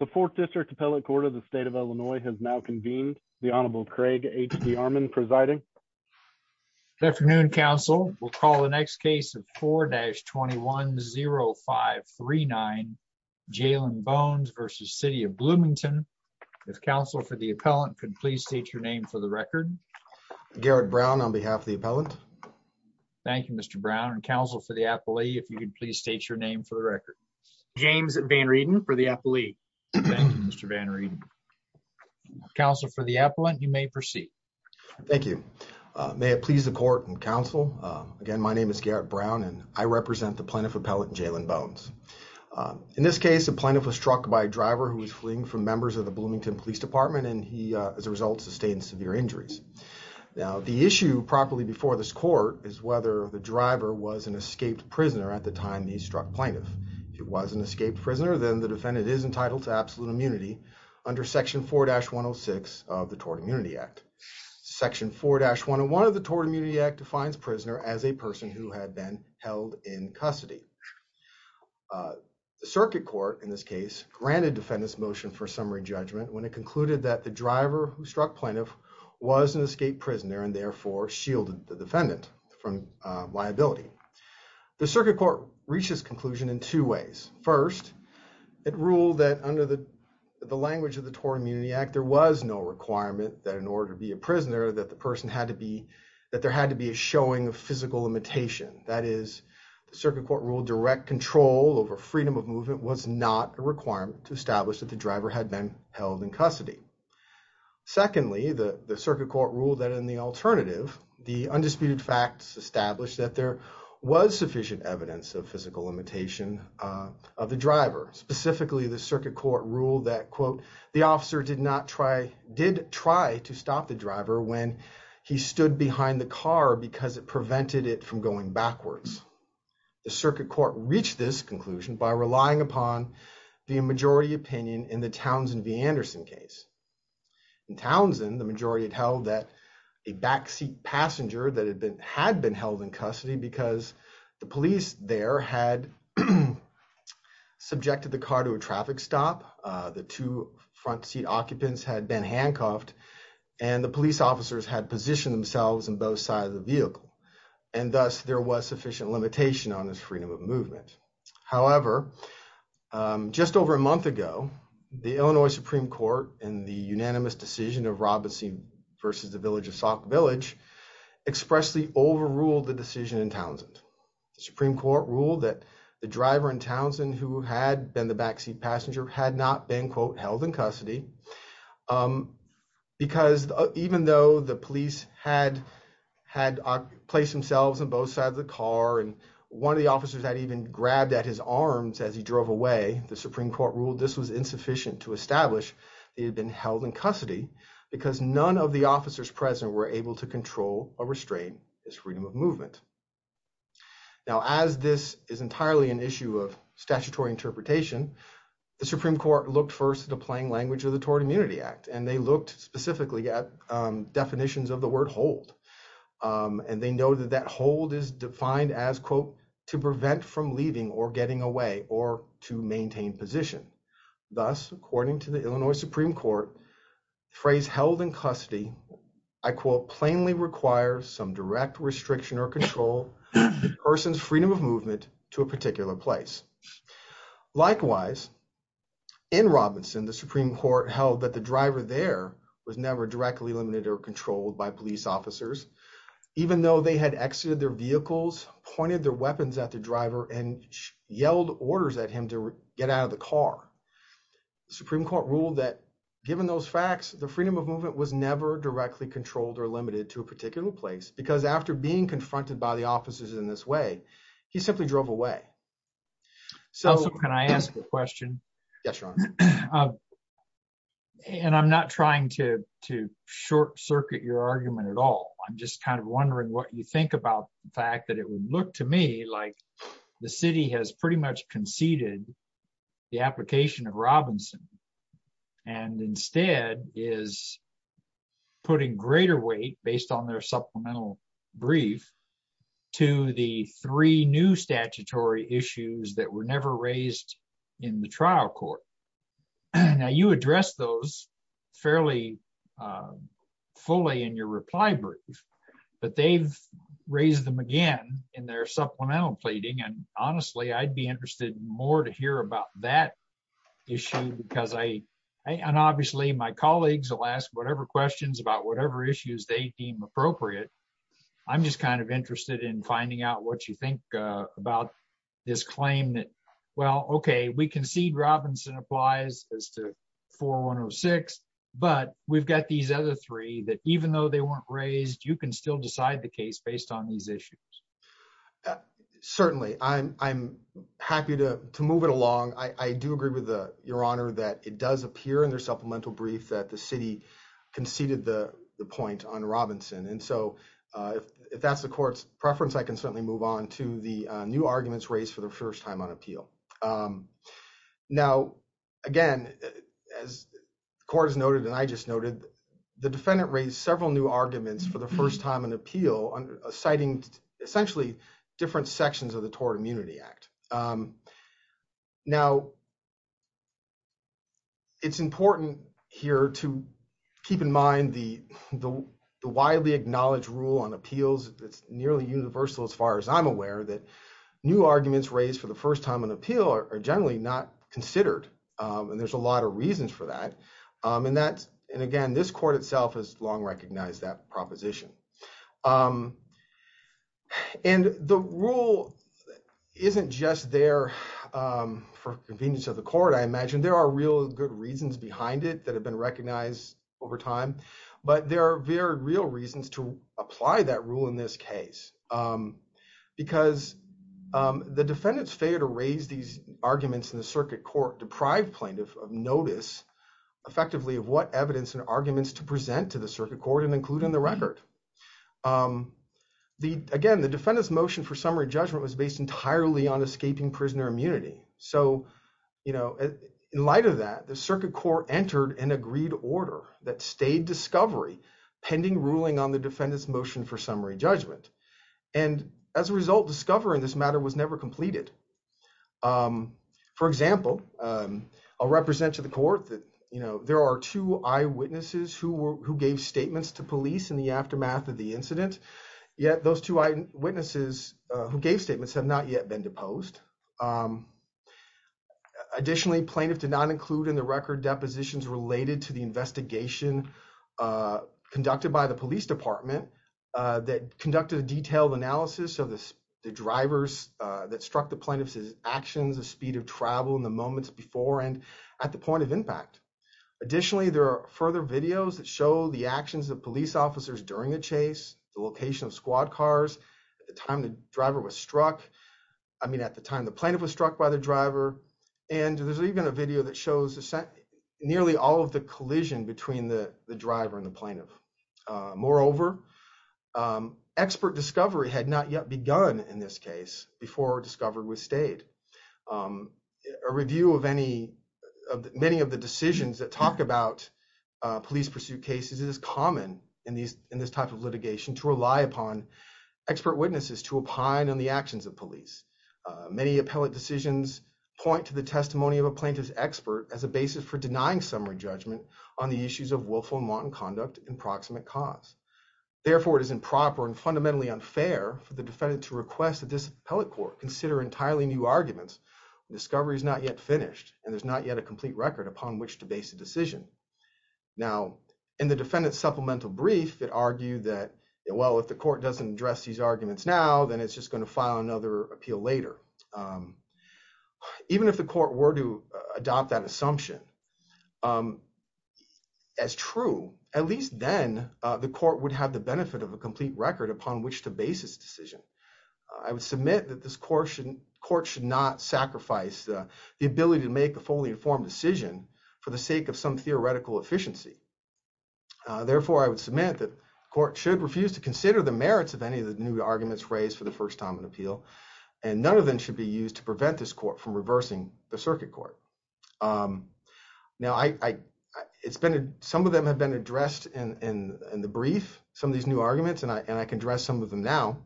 The Fourth District Appellate Court of the State of Illinois has now convened. The Honorable Craig H.D. Armon presiding. Good afternoon, counsel. We'll call the next case of 4-210539, Jalen Bones v. City of Bloomington. If counsel for the appellant could please state your name for the record. Garrett Brown on behalf of the appellant. Thank you, Mr. Brown. And counsel for the appellee, if you could please state your name for the record. James Van Reden for the appellee. Counsel for the appellant, you may proceed. Thank you. May it please the court and counsel, again, my name is Garrett Brown and I represent the plaintiff appellate Jalen Bones. In this case, the plaintiff was struck by a driver who was fleeing from members of the Bloomington Police Department and he, as a result, sustained severe injuries. Now, the issue properly before this court is whether the driver was an escaped prisoner at the time he struck plaintiff. If he was an escaped prisoner, then the defendant is entitled to absolute immunity under section 4-106 of the Tort Immunity Act. Section 4-101 of the Tort Immunity Act defines prisoner as a person who had been held in custody. The circuit court, in this case, granted defendants motion for summary judgment when it concluded that the driver who struck plaintiff was an escaped prisoner and therefore shielded the defendant from liability. The circuit court reached this conclusion in two ways. First, it ruled that under the language of the Tort Immunity Act, there was no requirement that in order to be a prisoner that the person had to be, that there had to be a showing of physical imitation. That is, the circuit court ruled direct control over freedom of movement was not a requirement to establish that the driver had been held in custody. Secondly, the circuit court ruled that in the alternative, the undisputed facts established that there was sufficient evidence of physical imitation of the driver. Specifically, the circuit court ruled that, quote, the officer did not try, did try to stop the driver when he stood behind the car because it prevented it from going backwards. The circuit court reached this conclusion by relying upon the majority opinion in the Townsend v. Anderson case. In Townsend, the majority had held that a backseat passenger that had been, had been held in custody because the police there had subjected the car to a traffic stop, the two front seat occupants had been handcuffed, and the police officers had positioned themselves on both sides of the vehicle, and thus there was sufficient limitation on this freedom of movement. However, just over a month ago, the Illinois Supreme Court in the unanimous decision of Robinson v. The Village of Sauk Village expressly overruled the decision in Townsend. The Supreme Court ruled that the driver in Townsend who had been the backseat passenger had not been, quote, held in custody because even though the police had, had placed themselves on both sides of the vehicle, the officers had even grabbed at his arms as he drove away. The Supreme Court ruled this was insufficient to establish he had been held in custody because none of the officers present were able to control or restrain this freedom of movement. Now, as this is entirely an issue of statutory interpretation, the Supreme Court looked first at a playing language of the Tort Immunity Act, and they looked specifically at definitions of the word hold, and they know that hold is defined as, quote, to prevent from leaving or getting away or to maintain position. Thus, according to the Illinois Supreme Court, the phrase held in custody, I quote, plainly requires some direct restriction or control of the person's freedom of movement to a particular place. Likewise, in Robinson, the Supreme Court held that the driver there was never directly limited or controlled by police officers, even though they had exited their vehicles, pointed their weapons at the driver, and yelled orders at him to get out of the car. The Supreme Court ruled that given those facts, the freedom of movement was never directly controlled or limited to a particular place because after being confronted by the officers in this way, he simply drove away. So can I ask a question? Yes, Your Honor. And I'm not trying to, to short circuit your argument at all. I'm just kind of wondering what you think about the fact that it would look to me like the city has pretty much conceded the application of Robinson, and instead is putting greater weight based on their supplemental brief to the three new statutory issues that were never raised in the trial court. Now you address those fairly fully in your reply brief, but they've raised them again in their supplemental pleading. And honestly, I'd be interested in more to hear about that issue because I, and obviously my colleagues will ask whatever questions about whatever issues they appropriate. I'm just kind of interested in finding out what you think about this claim that, well, okay, we concede Robinson applies as to 4106, but we've got these other three that even though they weren't raised, you can still decide the case based on these issues. Certainly. I'm, I'm happy to move it along. I do agree with the, Your Honor, that it does and so if that's the court's preference, I can certainly move on to the new arguments raised for the first time on appeal. Now, again, as the court has noted, and I just noted, the defendant raised several new arguments for the first time on appeal citing essentially different sections of the Tort Immunity Act. Now, it's important here to keep in mind the widely acknowledged rule on appeals that's nearly universal as far as I'm aware that new arguments raised for the first time on appeal are generally not considered. And there's a lot of reasons for that. And that's, and again, this court itself has long recognized that proposition. And the rule isn't just there for convenience of the court, I imagine. There are real good reasons behind it that have been recognized over time. But there are very real reasons to apply that rule in this case. Because the defendant's failure to raise these arguments in the circuit court deprived plaintiff of notice effectively of what evidence and arguments to present to the circuit court and include in the record. The, again, the defendant's motion for summary judgment was based entirely on escaping prisoner immunity. So, you know, in light of that, the circuit court entered an agreed order that stayed discovery pending ruling on the defendant's motion for summary judgment. And as a result, discovering this matter was never completed. For example, I'll represent to the court that, you know, there are two eyewitnesses who gave statements to police in the aftermath of the incident. Yet those two eyewitnesses who gave statements have not yet been deposed. Additionally, plaintiff did not include in the record depositions related to the investigation conducted by the police department that conducted a detailed analysis of the drivers that struck the plaintiff's actions, the speed of travel in the moments before and at the point of impact. Additionally, there are further videos that show the actions of police officers during the chase, the location of squad cars at the time the driver was struck. I mean, at the time the plaintiff was struck by the driver. And there's even a video that shows nearly all of the collision between the driver and the plaintiff. Moreover, expert discovery had not yet begun in this case before discovered with stayed. A review of many of the decisions that talk about police pursuit cases is common in this type of litigation to rely upon expert witnesses to opine on the actions of police. Many appellate decisions point to the testimony of a plaintiff's expert as a basis for denying summary judgment on the issues of willful and wanton conduct and proximate cause. Therefore, it is improper and fundamentally unfair for the defendant to request that this discovery is not yet finished and there's not yet a complete record upon which to base a decision. Now, in the defendant's supplemental brief, it argued that, well, if the court doesn't address these arguments now, then it's just going to file another appeal later. Even if the court were to adopt that assumption as true, at least then the court would have the benefit of a complete record upon which to base this decision. I would submit that this court should not sacrifice the ability to make a fully informed decision for the sake of some theoretical efficiency. Therefore, I would submit that the court should refuse to consider the merits of any of the new arguments raised for the first time in appeal, and none of them should be used to prevent this court from reversing the circuit court. Now, some of them have been addressed in the brief, some of these new have been addressed, some of them now.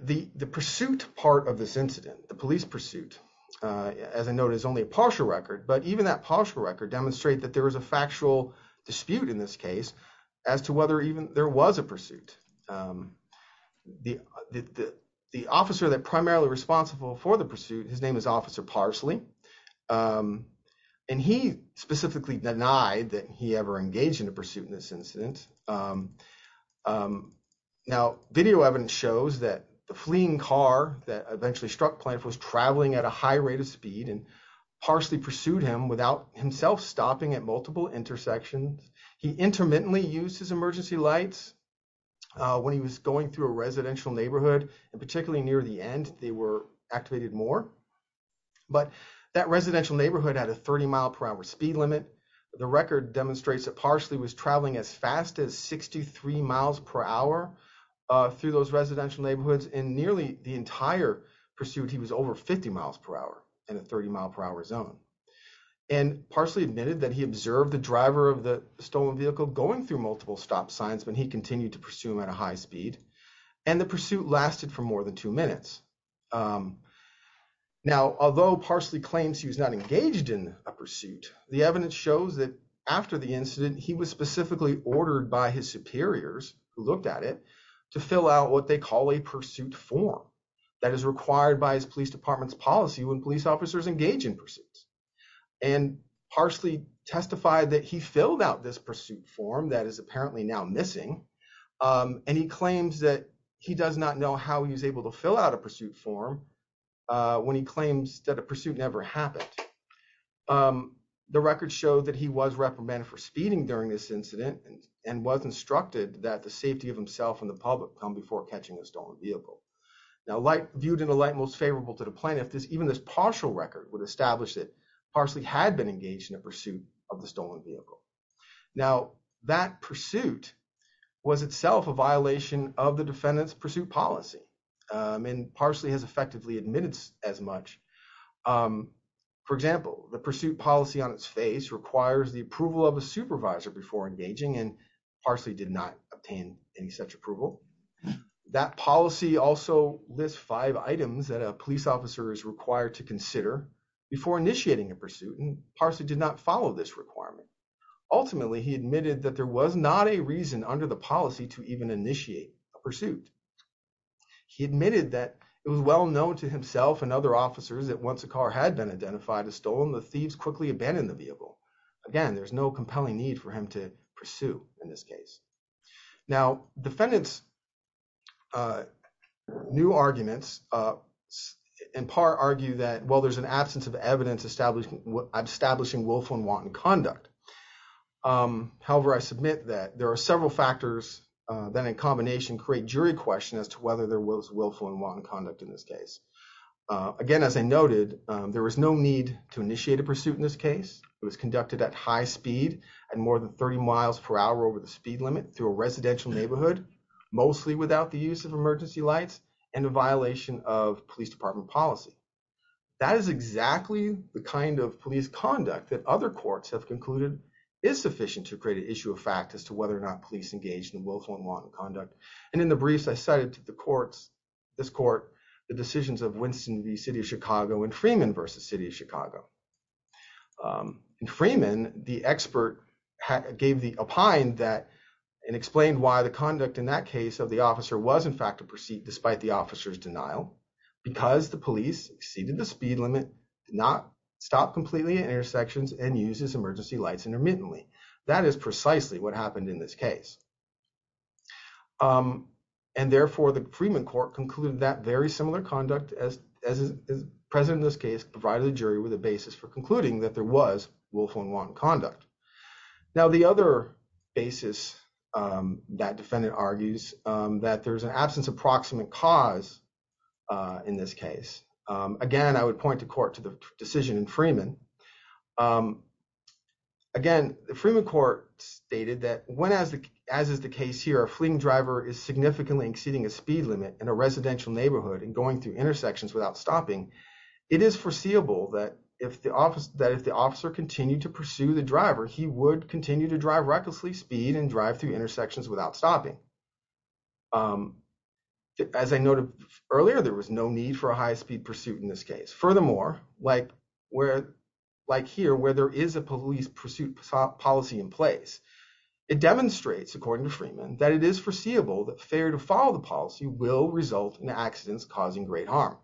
The pursuit part of this incident, the police pursuit, as I noted, is only a partial record, but even that partial record demonstrates that there is a factual dispute in this case as to whether even there was a pursuit. The officer that's primarily responsible for the pursuit, his name is Officer Parsley, and he specifically denied that he ever engaged in a pursuit in this incident. Now, video evidence shows that the fleeing car that eventually struck Plaintiff was traveling at a high rate of speed and Parsley pursued him without himself stopping at multiple intersections. He intermittently used his emergency lights when he was going through a residential neighborhood, and particularly near the end, they were activated more, but that residential neighborhood had a 30 mile per hour speed limit. The record demonstrates that Parsley was traveling as fast as 63 miles per hour through those residential neighborhoods in nearly the entire pursuit. He was over 50 miles per hour in a 30 mile per hour zone, and Parsley admitted that he observed the driver of the stolen vehicle going through multiple stop signs when he continued to pursue him at a high speed, and the pursuit lasted for more than two minutes. Now, although Parsley claims he was not engaged in a pursuit, the evidence shows that after the incident, he was specifically ordered by his superiors who looked at it to fill out what they call a pursuit form that is required by his police department's policy when police officers engage in pursuits, and Parsley testified that he filled out this pursuit form that is apparently now missing, and he claims that he does not know how he was able to fill out a pursuit form when he claims that a pursuit never happened. The records show that he was reprimanded for speeding during this incident and was instructed that the safety of himself and the public come before catching a stolen vehicle. Now, viewed in the light most favorable to the plaintiff, even this partial record would establish that Parsley had been engaged in a pursuit of the stolen vehicle. Now, that pursuit was itself a violation of the defendant's pursuit policy, and Parsley has effectively admitted as much. For example, the pursuit policy on its face requires the approval of a supervisor before engaging, and Parsley did not obtain any such approval. That policy also lists five items that a police officer is required to consider before initiating a pursuit, and Parsley did not follow this requirement. Ultimately, he admitted that there was not a reason under the policy to even initiate a pursuit. He admitted that it was well known to himself and other officers that once a car had been identified as stolen, the thieves quickly abandoned the vehicle. Again, there's no compelling need for him to pursue in this case. Now, defendants' new arguments in part argue that, well, there's an absence of evidence establishing Wolf and Watton conduct. However, I submit that there are several factors that in combination create jury question as to whether there was Wolf and Watton conduct in this case. Again, as I noted, there was no need to initiate a pursuit in this case. It was conducted at high speed and more than 30 miles per hour over the speed limit through a residential neighborhood, mostly without the use of emergency lights and a violation of police department policy. That is exactly the kind of police conduct that other courts have concluded is sufficient to create an issue of fact as to whether or not police engaged in Wolf and Watton conduct. In the briefs I cited to this court, the decisions of Winston v. City of Chicago and Freeman v. City of Chicago. In Freeman, the expert gave the opine and explained why the conduct in that case of the officer was, in fact, a pursuit despite the officer's denial because the police exceeded the speed limit, did not stop completely at intersections, and used his emergency lights intermittently. That is precisely what happened in this case. Therefore, the Freeman court concluded that very similar conduct as is present in this case provided the jury with a basis for concluding that there was Wolf and Watton conduct. Now, the other basis that defendant argues that there's an absence of proximate cause in this case. Again, I would point the court to the decision in Freeman. Again, the Freeman court stated that as is the case here, a fleeing driver is significantly exceeding a speed limit in a residential neighborhood and going through intersections without stopping. It is foreseeable that if the officer continued to pursue the driver, he would continue to drive recklessly speed and drive through intersections without stopping. As I noted earlier, there was no need for a high-speed pursuit in this case. Furthermore, like here, where there is a police pursuit policy in place, it demonstrates, according to Freeman, that it is foreseeable that failure to follow the policy will result in accidents causing great harm.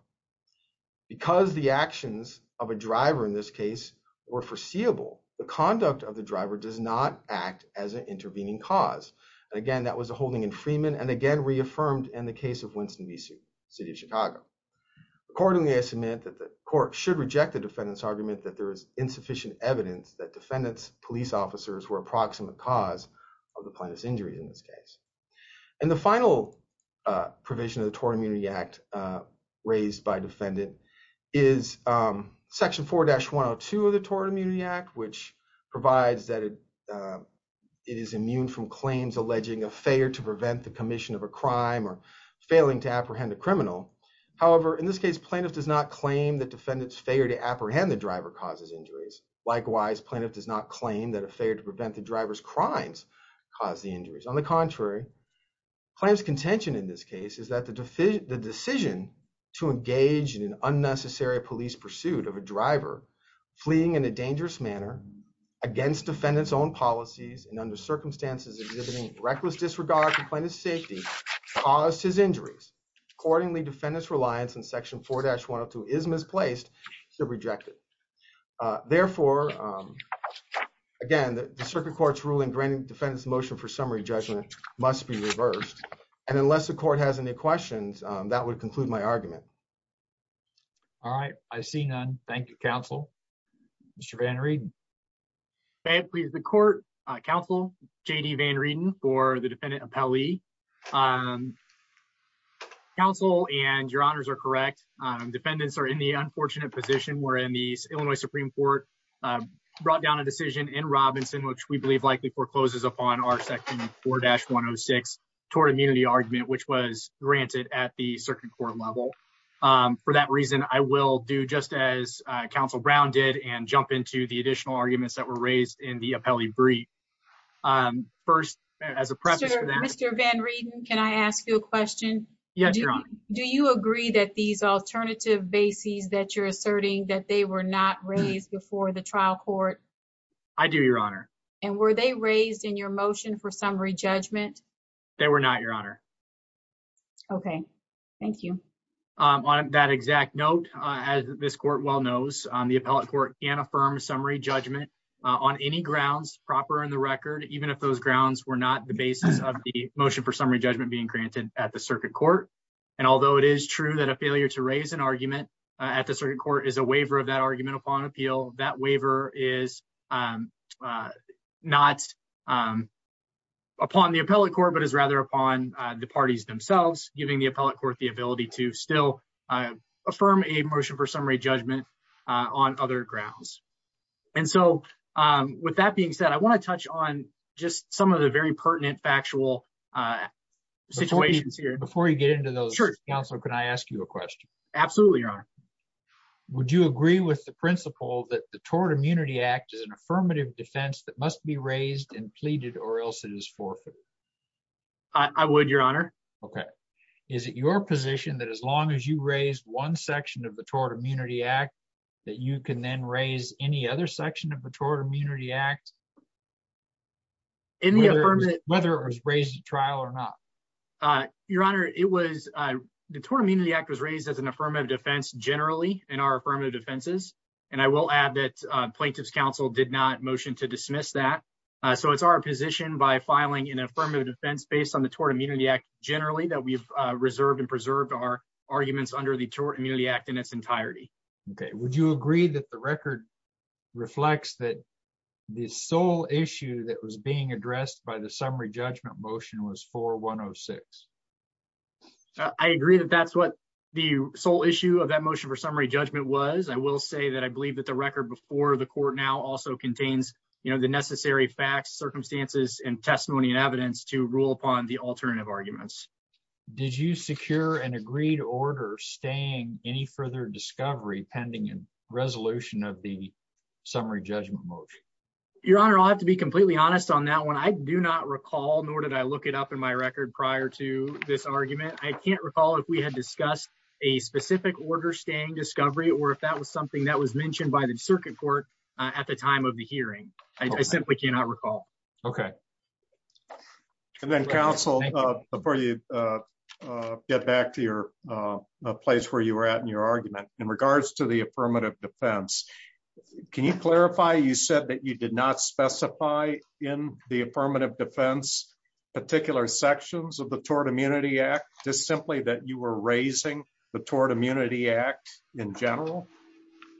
Because the actions of a driver in this case were foreseeable, the conduct of the driver does not act as an intervening cause. Again, that was a holding in Freeman and, again, reaffirmed in the case of Winston v. City of Chicago. Accordingly, I submit that the court should reject the defendant's argument that there is insufficient evidence that defendant's police officers were a proximate cause of the plaintiff's injury in this case. And the final provision of the Tort Immunity Act raised by defendant is Section 4-102 of the Tort Immunity Act, which provides that it is immune from claims alleging a failure to prevent the mission of a crime or failing to apprehend a criminal. However, in this case, plaintiff does not claim that defendant's failure to apprehend the driver causes injuries. Likewise, plaintiff does not claim that a failure to prevent the driver's crimes cause the injuries. On the contrary, plaintiff's contention in this case is that the decision to engage in an unnecessary police pursuit of a driver fleeing in a dangerous manner against defendant's own policies and under circumstances exhibiting reckless disregard for plaintiff's safety caused his injuries. Accordingly, defendant's reliance on Section 4-102 is misplaced, so rejected. Therefore, again, the circuit court's ruling granting defendant's motion for summary judgment must be reversed. And unless the court has any questions, that would conclude my argument. All right. I see none. Thank you, counsel. Mr. Van Rieden. May it please the court. Counsel J.D. Van Rieden for the defendant appellee. Counsel and your honors are correct. Defendants are in the unfortunate position wherein the Illinois Supreme Court brought down a decision in Robinson, which we believe likely forecloses upon our Section 4-106 Tort Immunity Argument, which was granted at the circuit court level. For that reason, I will do just as counsel Brown did and jump into the additional arguments that were raised in the appellee brief. First, as a precedent. Mr. Van Rieden, can I ask you a question? Yes, your honor. Do you agree that these alternative bases that you're asserting that they were not raised before the trial court? I do, your honor. And were they raised in your that exact note? As this court well knows, the appellate court can affirm summary judgment on any grounds proper in the record, even if those grounds were not the basis of the motion for summary judgment being granted at the circuit court. And although it is true that a failure to raise an argument at the circuit court is a waiver of that argument upon appeal, that waiver is not upon the appellate court, but is rather upon the parties themselves, giving the appellate ability to still affirm a motion for summary judgment on other grounds. And so with that being said, I want to touch on just some of the very pertinent factual situations here. Before you get into those, counsel, can I ask you a question? Absolutely, your honor. Would you agree with the principle that the Tort Immunity Act is an affirmative defense that must be raised and pleaded or else it is forfeited? I would, your honor. Okay. Is it your position that as long as you raise one section of the Tort Immunity Act, that you can then raise any other section of the Tort Immunity Act? In the affirmative, whether it was raised at trial or not? Your honor, it was, the Tort Immunity Act was raised as an affirmative defense generally in affirmative defenses. And I will add that plaintiff's counsel did not motion to dismiss that. So it's our position by filing an affirmative defense based on the Tort Immunity Act generally that we've reserved and preserved our arguments under the Tort Immunity Act in its entirety. Okay. Would you agree that the record reflects that the sole issue that was being addressed by the summary judgment motion was 4106? I agree that that's what the sole issue of that judgment was. I will say that I believe that the record before the court now also contains, you know, the necessary facts, circumstances, and testimony and evidence to rule upon the alternative arguments. Did you secure an agreed order staying any further discovery pending in resolution of the summary judgment motion? Your honor, I'll have to be completely honest on that one. I do not recall, nor did I look it up in my record prior to this argument. I can't recall if had discussed a specific order staying discovery or if that was something that was mentioned by the circuit court at the time of the hearing. I simply cannot recall. Okay. And then counsel, before you get back to your place where you were at in your argument in regards to the affirmative defense, can you clarify you said that you did not specify in the affirmative defense particular sections of the Tort Immunity Act, just simply that you were raising the Tort Immunity Act in general?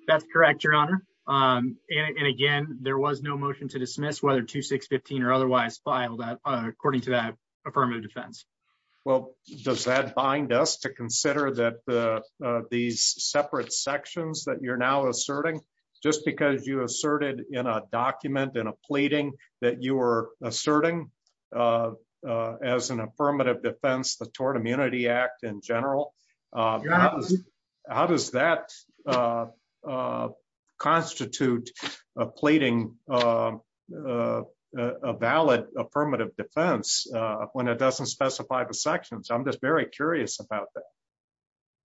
That's correct, your honor. And again, there was no motion to dismiss whether 2615 or otherwise filed that according to that affirmative defense. Well, does that bind us to consider that these separate sections that you're now asserting, just because you asserted in a document in a affirmative defense, the Tort Immunity Act in general, how does that constitute a plating, a valid affirmative defense when it doesn't specify the sections? I'm just very curious about that.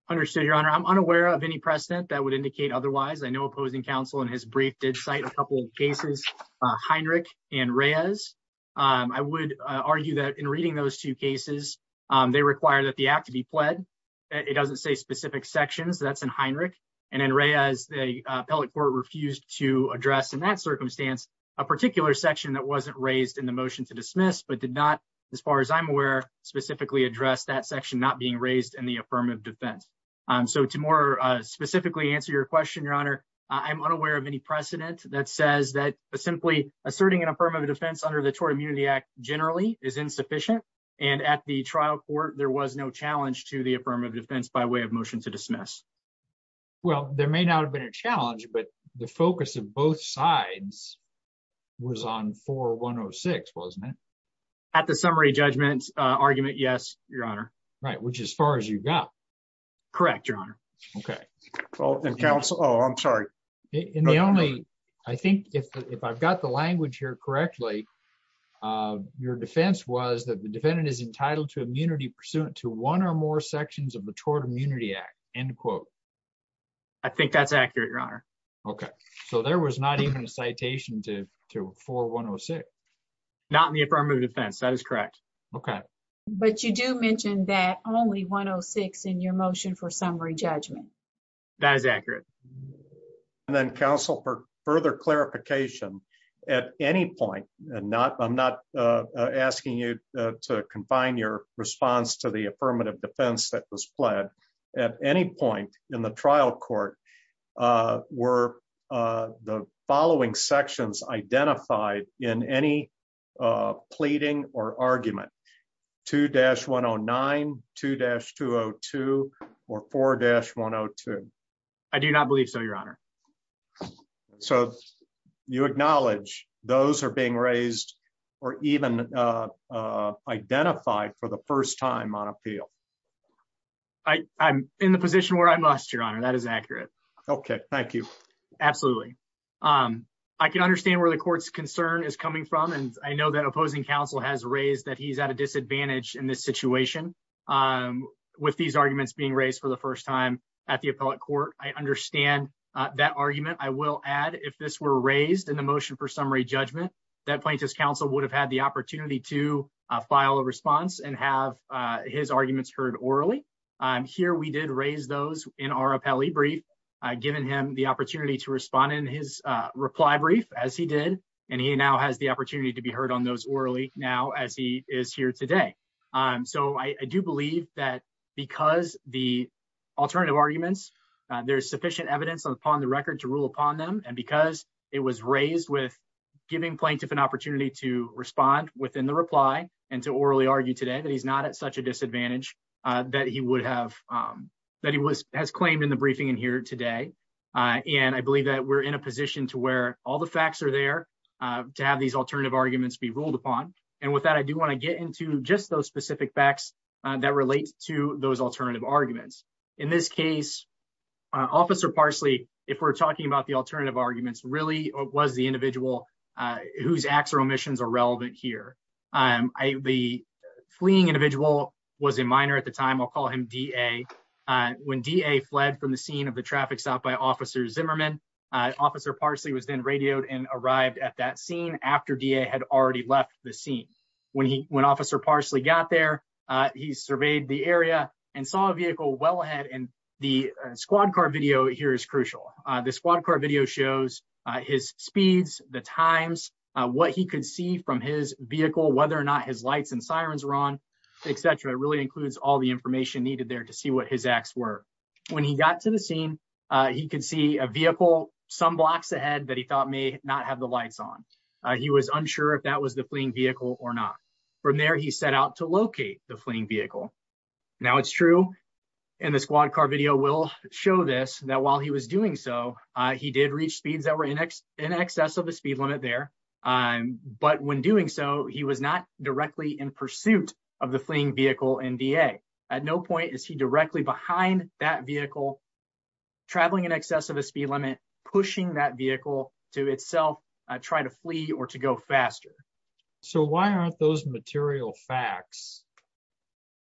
Understood, your honor. I'm unaware of any precedent that would indicate otherwise. I know opposing counsel in his brief did cite a couple of cases, Heinrich and Reyes. I would argue that in reading those two cases, they require that the act to be pled. It doesn't say specific sections that's in Heinrich and in Reyes, the appellate court refused to address in that circumstance, a particular section that wasn't raised in the motion to dismiss, but did not, as far as I'm aware, specifically address that section not being raised in the affirmative defense. So to more specifically answer your question, your honor, I'm unaware of any precedent that says that simply asserting an affirmative defense under the Tort Immunity Act generally is insufficient. And at the trial court, there was no challenge to the affirmative defense by way of motion to dismiss. Well, there may not have been a challenge, but the focus of both sides was on 4106, wasn't it? At the summary judgment argument, yes, your honor. Right. Which as far as you got. Correct, your honor. Okay. Oh, I'm sorry. In the only, I think if I've got the language here correctly, your defense was that the defendant is entitled to immunity pursuant to one or more sections of the Tort Immunity Act, end quote. I think that's accurate, your honor. Okay. So there was not even a citation to 4106. Not in the affirmative defense. That is correct. Okay. But you do mention that only 106 in your motion for summary judgment. That is accurate. And then counsel, for further clarification, at any point, and not, I'm not asking you to confine your response to the affirmative defense that was pled at any point in the trial court, uh, were, uh, the following sections identified in any, uh, pleading or argument to dash one Oh nine, two dash two Oh two or four dash one Oh two. I do not believe so, your honor. So you acknowledge those are being raised or even, uh, uh, identified for the first time on appeal. I, I'm in the position where I must, your honor. That is accurate. Okay. Thank you. Absolutely. Um, I can understand where the court's concern is coming from. And I know that opposing counsel has raised that he's at a disadvantage in this situation. Um, with these arguments being raised for the first time at the appellate court, I understand that argument. I will add if this were raised in the motion for summary judgment, that plaintiff's counsel would have had the I'm here. We did raise those in our appellee brief, uh, given him the opportunity to respond in his, uh, reply brief as he did. And he now has the opportunity to be heard on those orally now, as he is here today. Um, so I do believe that because the alternative arguments, uh, there's sufficient evidence upon the record to rule upon them. And because it was raised with giving plaintiff an opportunity to respond within the reply and to orally argue today that he's not at a disadvantage, uh, that he would have, um, that he was, has claimed in the briefing in here today. Uh, and I believe that we're in a position to where all the facts are there, uh, to have these alternative arguments be ruled upon. And with that, I do want to get into just those specific facts that relate to those alternative arguments. In this case, uh, officer Parsley, if we're talking about the alternative arguments really was the individual, uh, whose acts or omissions are was a minor at the time. I'll call him DA. Uh, when DA fled from the scene of the traffic stop by officers Zimmerman, uh, officer Parsley was then radioed and arrived at that scene after DA had already left the scene. When he, when officer Parsley got there, uh, he surveyed the area and saw a vehicle well ahead. And the squad car video here is crucial. Uh, the squad car video shows, uh, his speeds, the times, uh, what he could see from his vehicle, whether or not his lights and includes all the information needed there to see what his acts were. When he got to the scene, uh, he could see a vehicle some blocks ahead that he thought may not have the lights on. Uh, he was unsure if that was the fleeing vehicle or not. From there, he set out to locate the fleeing vehicle. Now it's true. And the squad car video will show this, that while he was doing so, uh, he did reach speeds that were in excess of the speed limit there. Um, but when doing so he was not directly in pursuit of the fleeing vehicle NDA at no point is he directly behind that vehicle traveling in excess of a speed limit, pushing that vehicle to itself, uh, try to flee or to go faster. So why aren't those material facts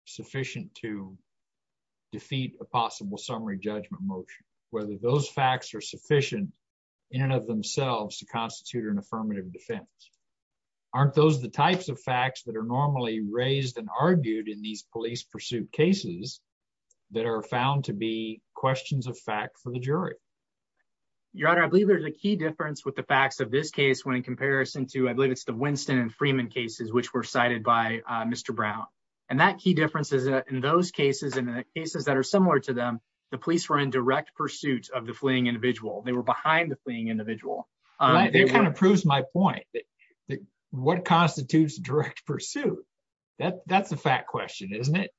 sufficient to defeat a possible summary judgment motion, whether those facts are sufficient in and of themselves to constitute an affirmative defense. Aren't those the types of facts that are normally raised and argued in these police pursuit cases that are found to be questions of fact for the jury. Your honor, I believe there's a key difference with the facts of this case when in comparison to, I believe it's the Winston and Freeman cases, which were cited by Mr. Brown. And that key differences in those cases, in the cases that are similar to them, the police were in direct pursuit of the fleeing individual. They were behind the fleeing individual. All right. That kind of proves my point that what constitutes direct pursuit. That that's a fact question, isn't it?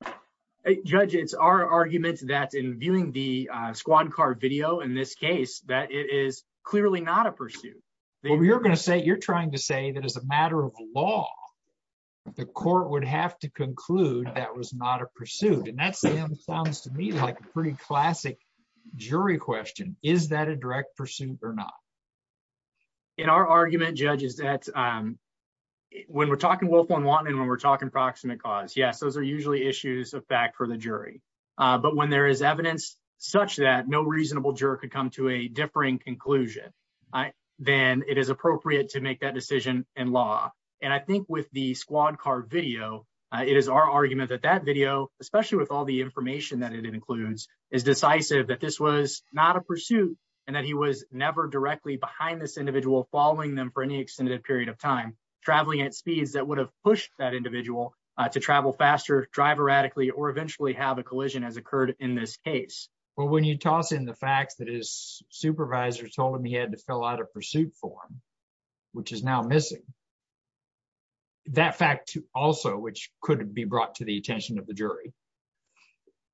Hey, judge, it's our arguments that in viewing the squad car video in this case, that it is clearly not a pursuit. You're going to say, you're trying to say that as a matter of law, the court would have to conclude that was not pursued. And that sounds to me like a pretty classic jury question. Is that a direct pursuit or not? In our argument, judge, is that when we're talking willful and wanton, when we're talking approximate cause, yes, those are usually issues of fact for the jury. But when there is evidence such that no reasonable juror could come to a differing conclusion, then it is appropriate to make that decision in law. And I think with the squad car video, it is our argument that that especially with all the information that it includes is decisive that this was not a pursuit and that he was never directly behind this individual following them for any extended period of time, traveling at speeds that would have pushed that individual to travel faster, drive erratically, or eventually have a collision as occurred in this case. Well, when you toss in the facts that his supervisor told him he had to fill out a pursuit form, which is now missing that fact also, which couldn't be brought to the attention of the jury.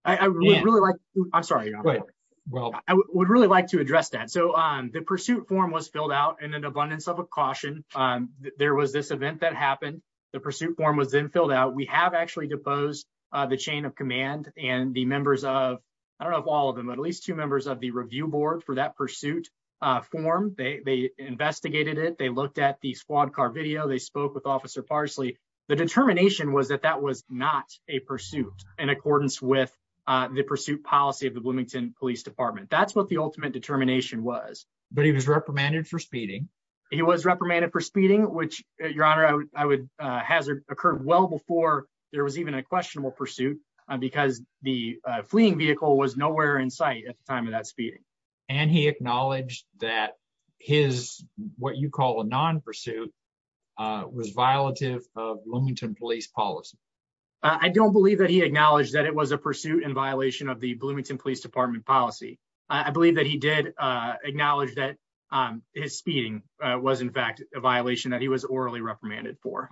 I really like. I'm sorry. Well, I would really like to address that. So the pursuit form was filled out in an abundance of a caution. There was this event that happened. The pursuit form was then filled out. We have actually deposed the chain of command and the members of I don't know all of them, at least two members of the review board for that pursuit form. They investigated it. They looked at the squad car video. They spoke with Officer Parsley. The determination was that that was not a pursuit in accordance with the pursuit policy of the Bloomington Police Department. That's what the ultimate determination was. But he was reprimanded for speeding. He was reprimanded for speeding, which your honor, I would hazard occurred well before there was even a questionable pursuit because the fleeing vehicle was nowhere in sight at the time of that speeding. And he acknowledged that his what you call a non-pursuit was violative of Bloomington Police policy. I don't believe that he acknowledged that it was a pursuit in violation of the Bloomington Police Department policy. I believe that he did acknowledge that his speeding was in fact a violation that he was orally reprimanded for.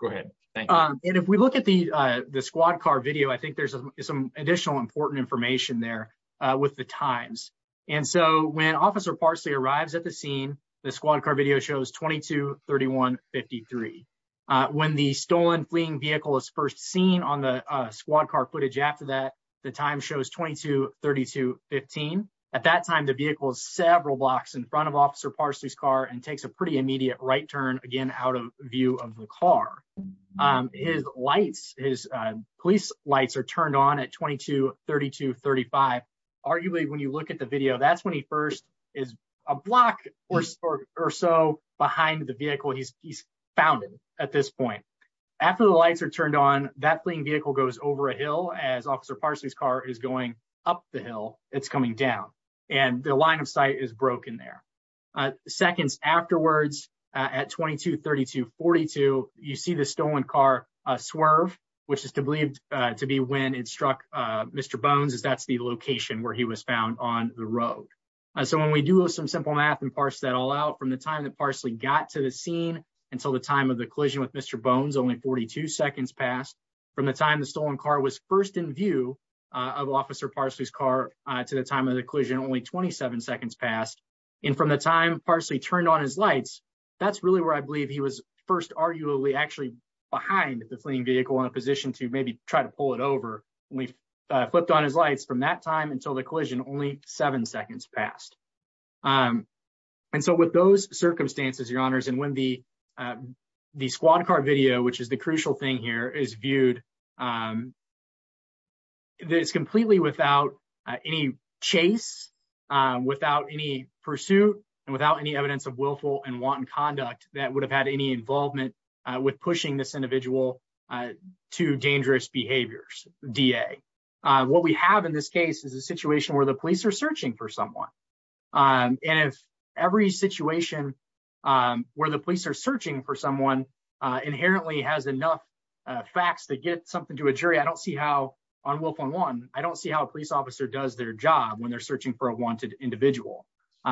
Go ahead. And if we look at the squad car video, I think there's some additional important information there with the times. And so when Officer Parsley arrives at the scene, the squad car video shows 22, 31, 53. When the stolen fleeing vehicle is first seen on the squad car footage after that, the time shows 22, 32, 15. At that time, the vehicle is several blocks in front of Officer Parsley's car and takes a pretty immediate right turn again out of view of the car. His lights, his police lights are turned on at 22, 32, 35. Arguably, when you look at the video, that's when he first is a block or so behind the vehicle he's found at this point. After the lights are turned on, that fleeing vehicle goes over a up the hill. It's coming down and the line of sight is broken there. Seconds afterwards at 22, 32, 42, you see the stolen car swerve, which is to believe to be when it struck Mr. Bones, as that's the location where he was found on the road. So when we do some simple math and parse that all out from the time that Parsley got to the scene until the time of the collision with Mr. Bones, only 42 seconds passed. From the time the stolen car was first in view of Officer Parsley's car to the time of the collision, only 27 seconds passed. And from the time Parsley turned on his lights, that's really where I believe he was first arguably actually behind the fleeing vehicle in a position to maybe try to pull it over. When he flipped on his lights from that time until the collision, only seven seconds passed. And so with those circumstances, your honors, and when the squad car video, which is the crucial thing here, is viewed, it's completely without any chase, without any pursuit and without any evidence of willful and wanton conduct that would have had any involvement with pushing this individual to dangerous behaviors, DA. What we have in this case is a situation where the police are searching for and if every situation where the police are searching for someone inherently has enough facts to get something to a jury, I don't see how on willful and wanton, I don't see how a police officer does their job when they're searching for a wanted individual.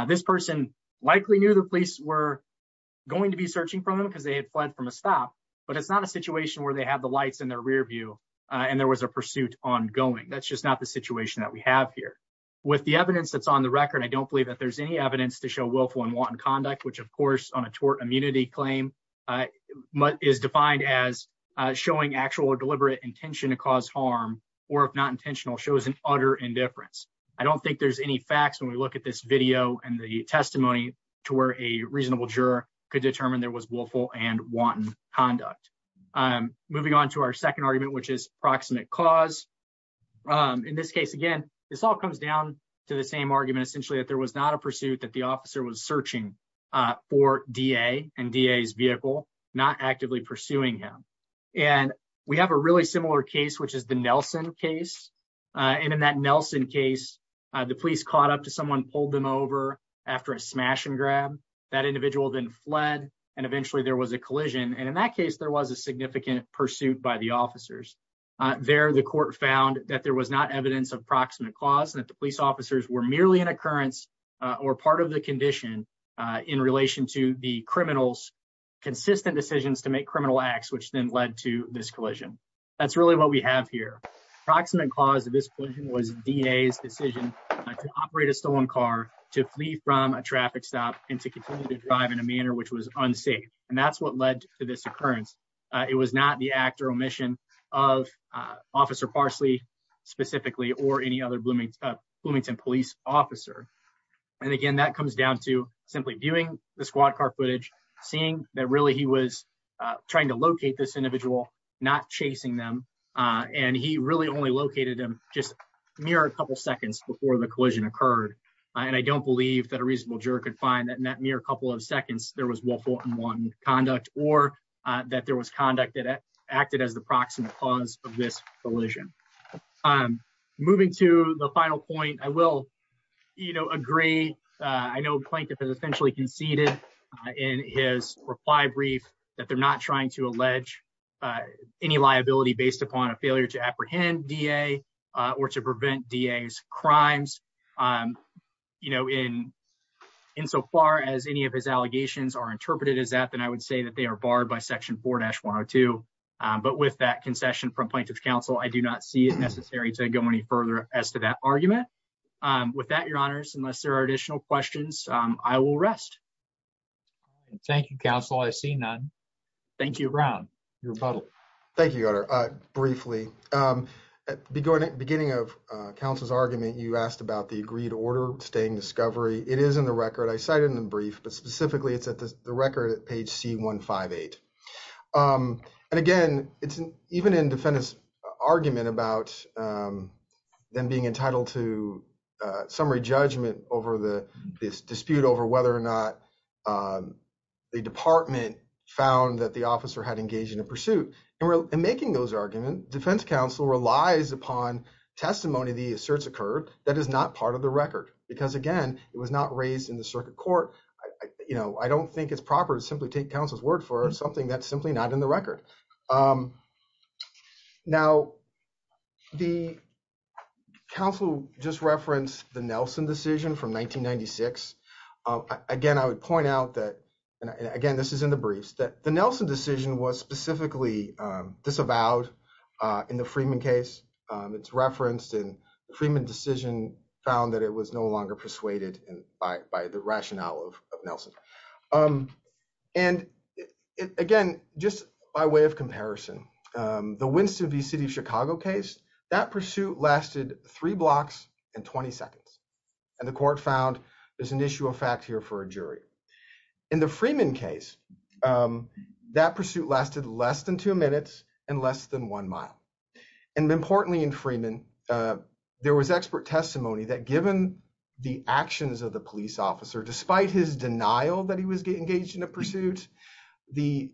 This person likely knew the police were going to be searching for them because they had fled from a stop, but it's not a situation where they have the lights in their rear view and there was a pursuit ongoing. That's just not the situation that we have here. With the evidence that's on the record, I don't believe that there's any evidence to show willful and wanton conduct, which of course on a tort immunity claim is defined as showing actual or deliberate intention to cause harm, or if not intentional, shows an utter indifference. I don't think there's any facts when we look at this video and the testimony to where a reasonable juror could determine there was willful and wanton conduct. Moving on to our second argument, which is proximate cause. In this case, again, this all comes down to the same argument, essentially that there was not a pursuit that the officer was searching for DA and DA's vehicle, not actively pursuing him. We have a really similar case, which is the Nelson case. In that Nelson case, the police caught up to someone, pulled them over after a smash and grab. That individual then fled and eventually there was a collision. In that case, there was a significant pursuit by the officers. There, the court found that there was not evidence of proximate cause and that the police officers were merely an occurrence or part of the condition in relation to the criminal's consistent decisions to make criminal acts, which then led to this collision. That's really what we have here. Proximate cause at this point was DA's decision to operate a stolen car, to flee from a traffic stop and to continue to drive in a manner which was unsafe. And that's what led to this occurrence. It was not the act or omission of Officer Parsley specifically or any other Bloomington police officer. And again, that comes down to simply viewing the squad car footage, seeing that really he was trying to locate this individual, not chasing them. And he really only located him just mere a couple seconds before the collision occurred. And I don't believe that a reasonable juror could find that in that mere couple of seconds, there was more than one conduct or that there was conduct that acted as the proximate cause of this collision. Moving to the final point, I will agree. I know Plankton has essentially conceded in his reply brief that they're not trying to allege any liability based upon a failure to apprehend DA or to prevent DA's crimes. In so far as any of his allegations are interpreted as that, I would say that they are barred by Section 4-102. But with that concession from Plankton's counsel, I do not see it necessary to go any further as to that argument. With that, Your Honors, unless there are additional questions, I will rest. Thank you, counsel. I see none. Thank you, Ron. Your rebuttal. Thank you, Your Honor. Briefly, beginning of counsel's argument, you asked about the agreed order staying discovery. It is in the record at page C-158. Again, even in defendant's argument about them being entitled to summary judgment over this dispute over whether or not the department found that the officer had engaged in a pursuit. In making those arguments, defense counsel relies upon testimony of the asserts occurred that is not part of the record. Because again, it was not raised in the circuit court. I do not think it is proper to simply take counsel's word for something that is simply not in the record. Now, the counsel just referenced the Nelson decision from 1996. Again, I would point out that, and again, this is in the briefs, that the Nelson decision was specifically disavowed in the Freeman case. It is referenced in the Freeman decision found that it was no longer persuaded by the rationale of Nelson. Again, just by way of comparison, the Winston v. City of Chicago case, that pursuit lasted three blocks and 20 seconds. The court found there is an issue of fact here for a jury. In the Freeman case, that pursuit lasted less than two minutes and less than one mile. Importantly, in Freeman, there was expert testimony that given the actions of the police officer, despite his denial that he was engaged in a pursuit, the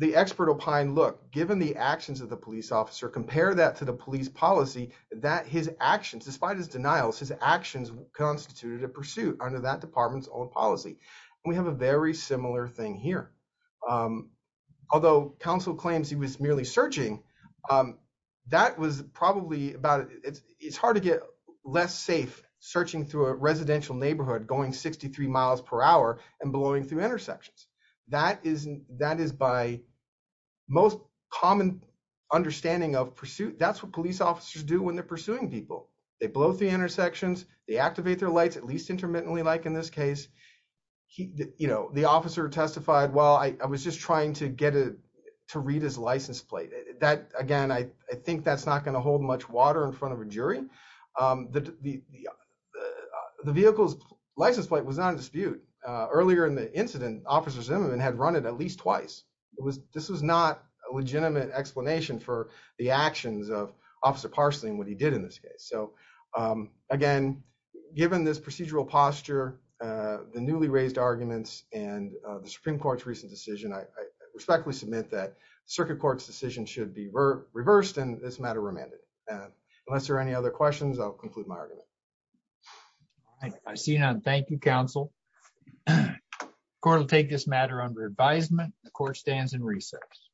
expert opined, look, given the actions of the police officer, compare that to the police policy, that his actions, despite his denials, his actions constituted a pursuit under that department's own policy. We have a very similar thing here. Although counsel claims he was merely searching, it's hard to get less safe searching through a residential neighborhood, going 63 miles per hour and blowing through intersections. That is by most common understanding of pursuit. That's what police officers do when they're pursuing people. They blow through intersections, they activate their lights, at least intermittently like in this case. The officer testified, well, I was just trying to get it to read his license plate. Again, I think that's not going to hold much water in front of a jury. The vehicle's license plate was not in dispute. Earlier in the incident, Officer Zimmerman had run it at least twice. This was not a legitimate explanation for the actions of given this procedural posture, the newly raised arguments and the Supreme Court's recent decision, I respectfully submit that circuit court's decision should be reversed and this matter remanded. Unless there are any other questions, I'll conclude my argument. I see none. Thank you, counsel. Court will take this matter under advisement. The court stands in recess.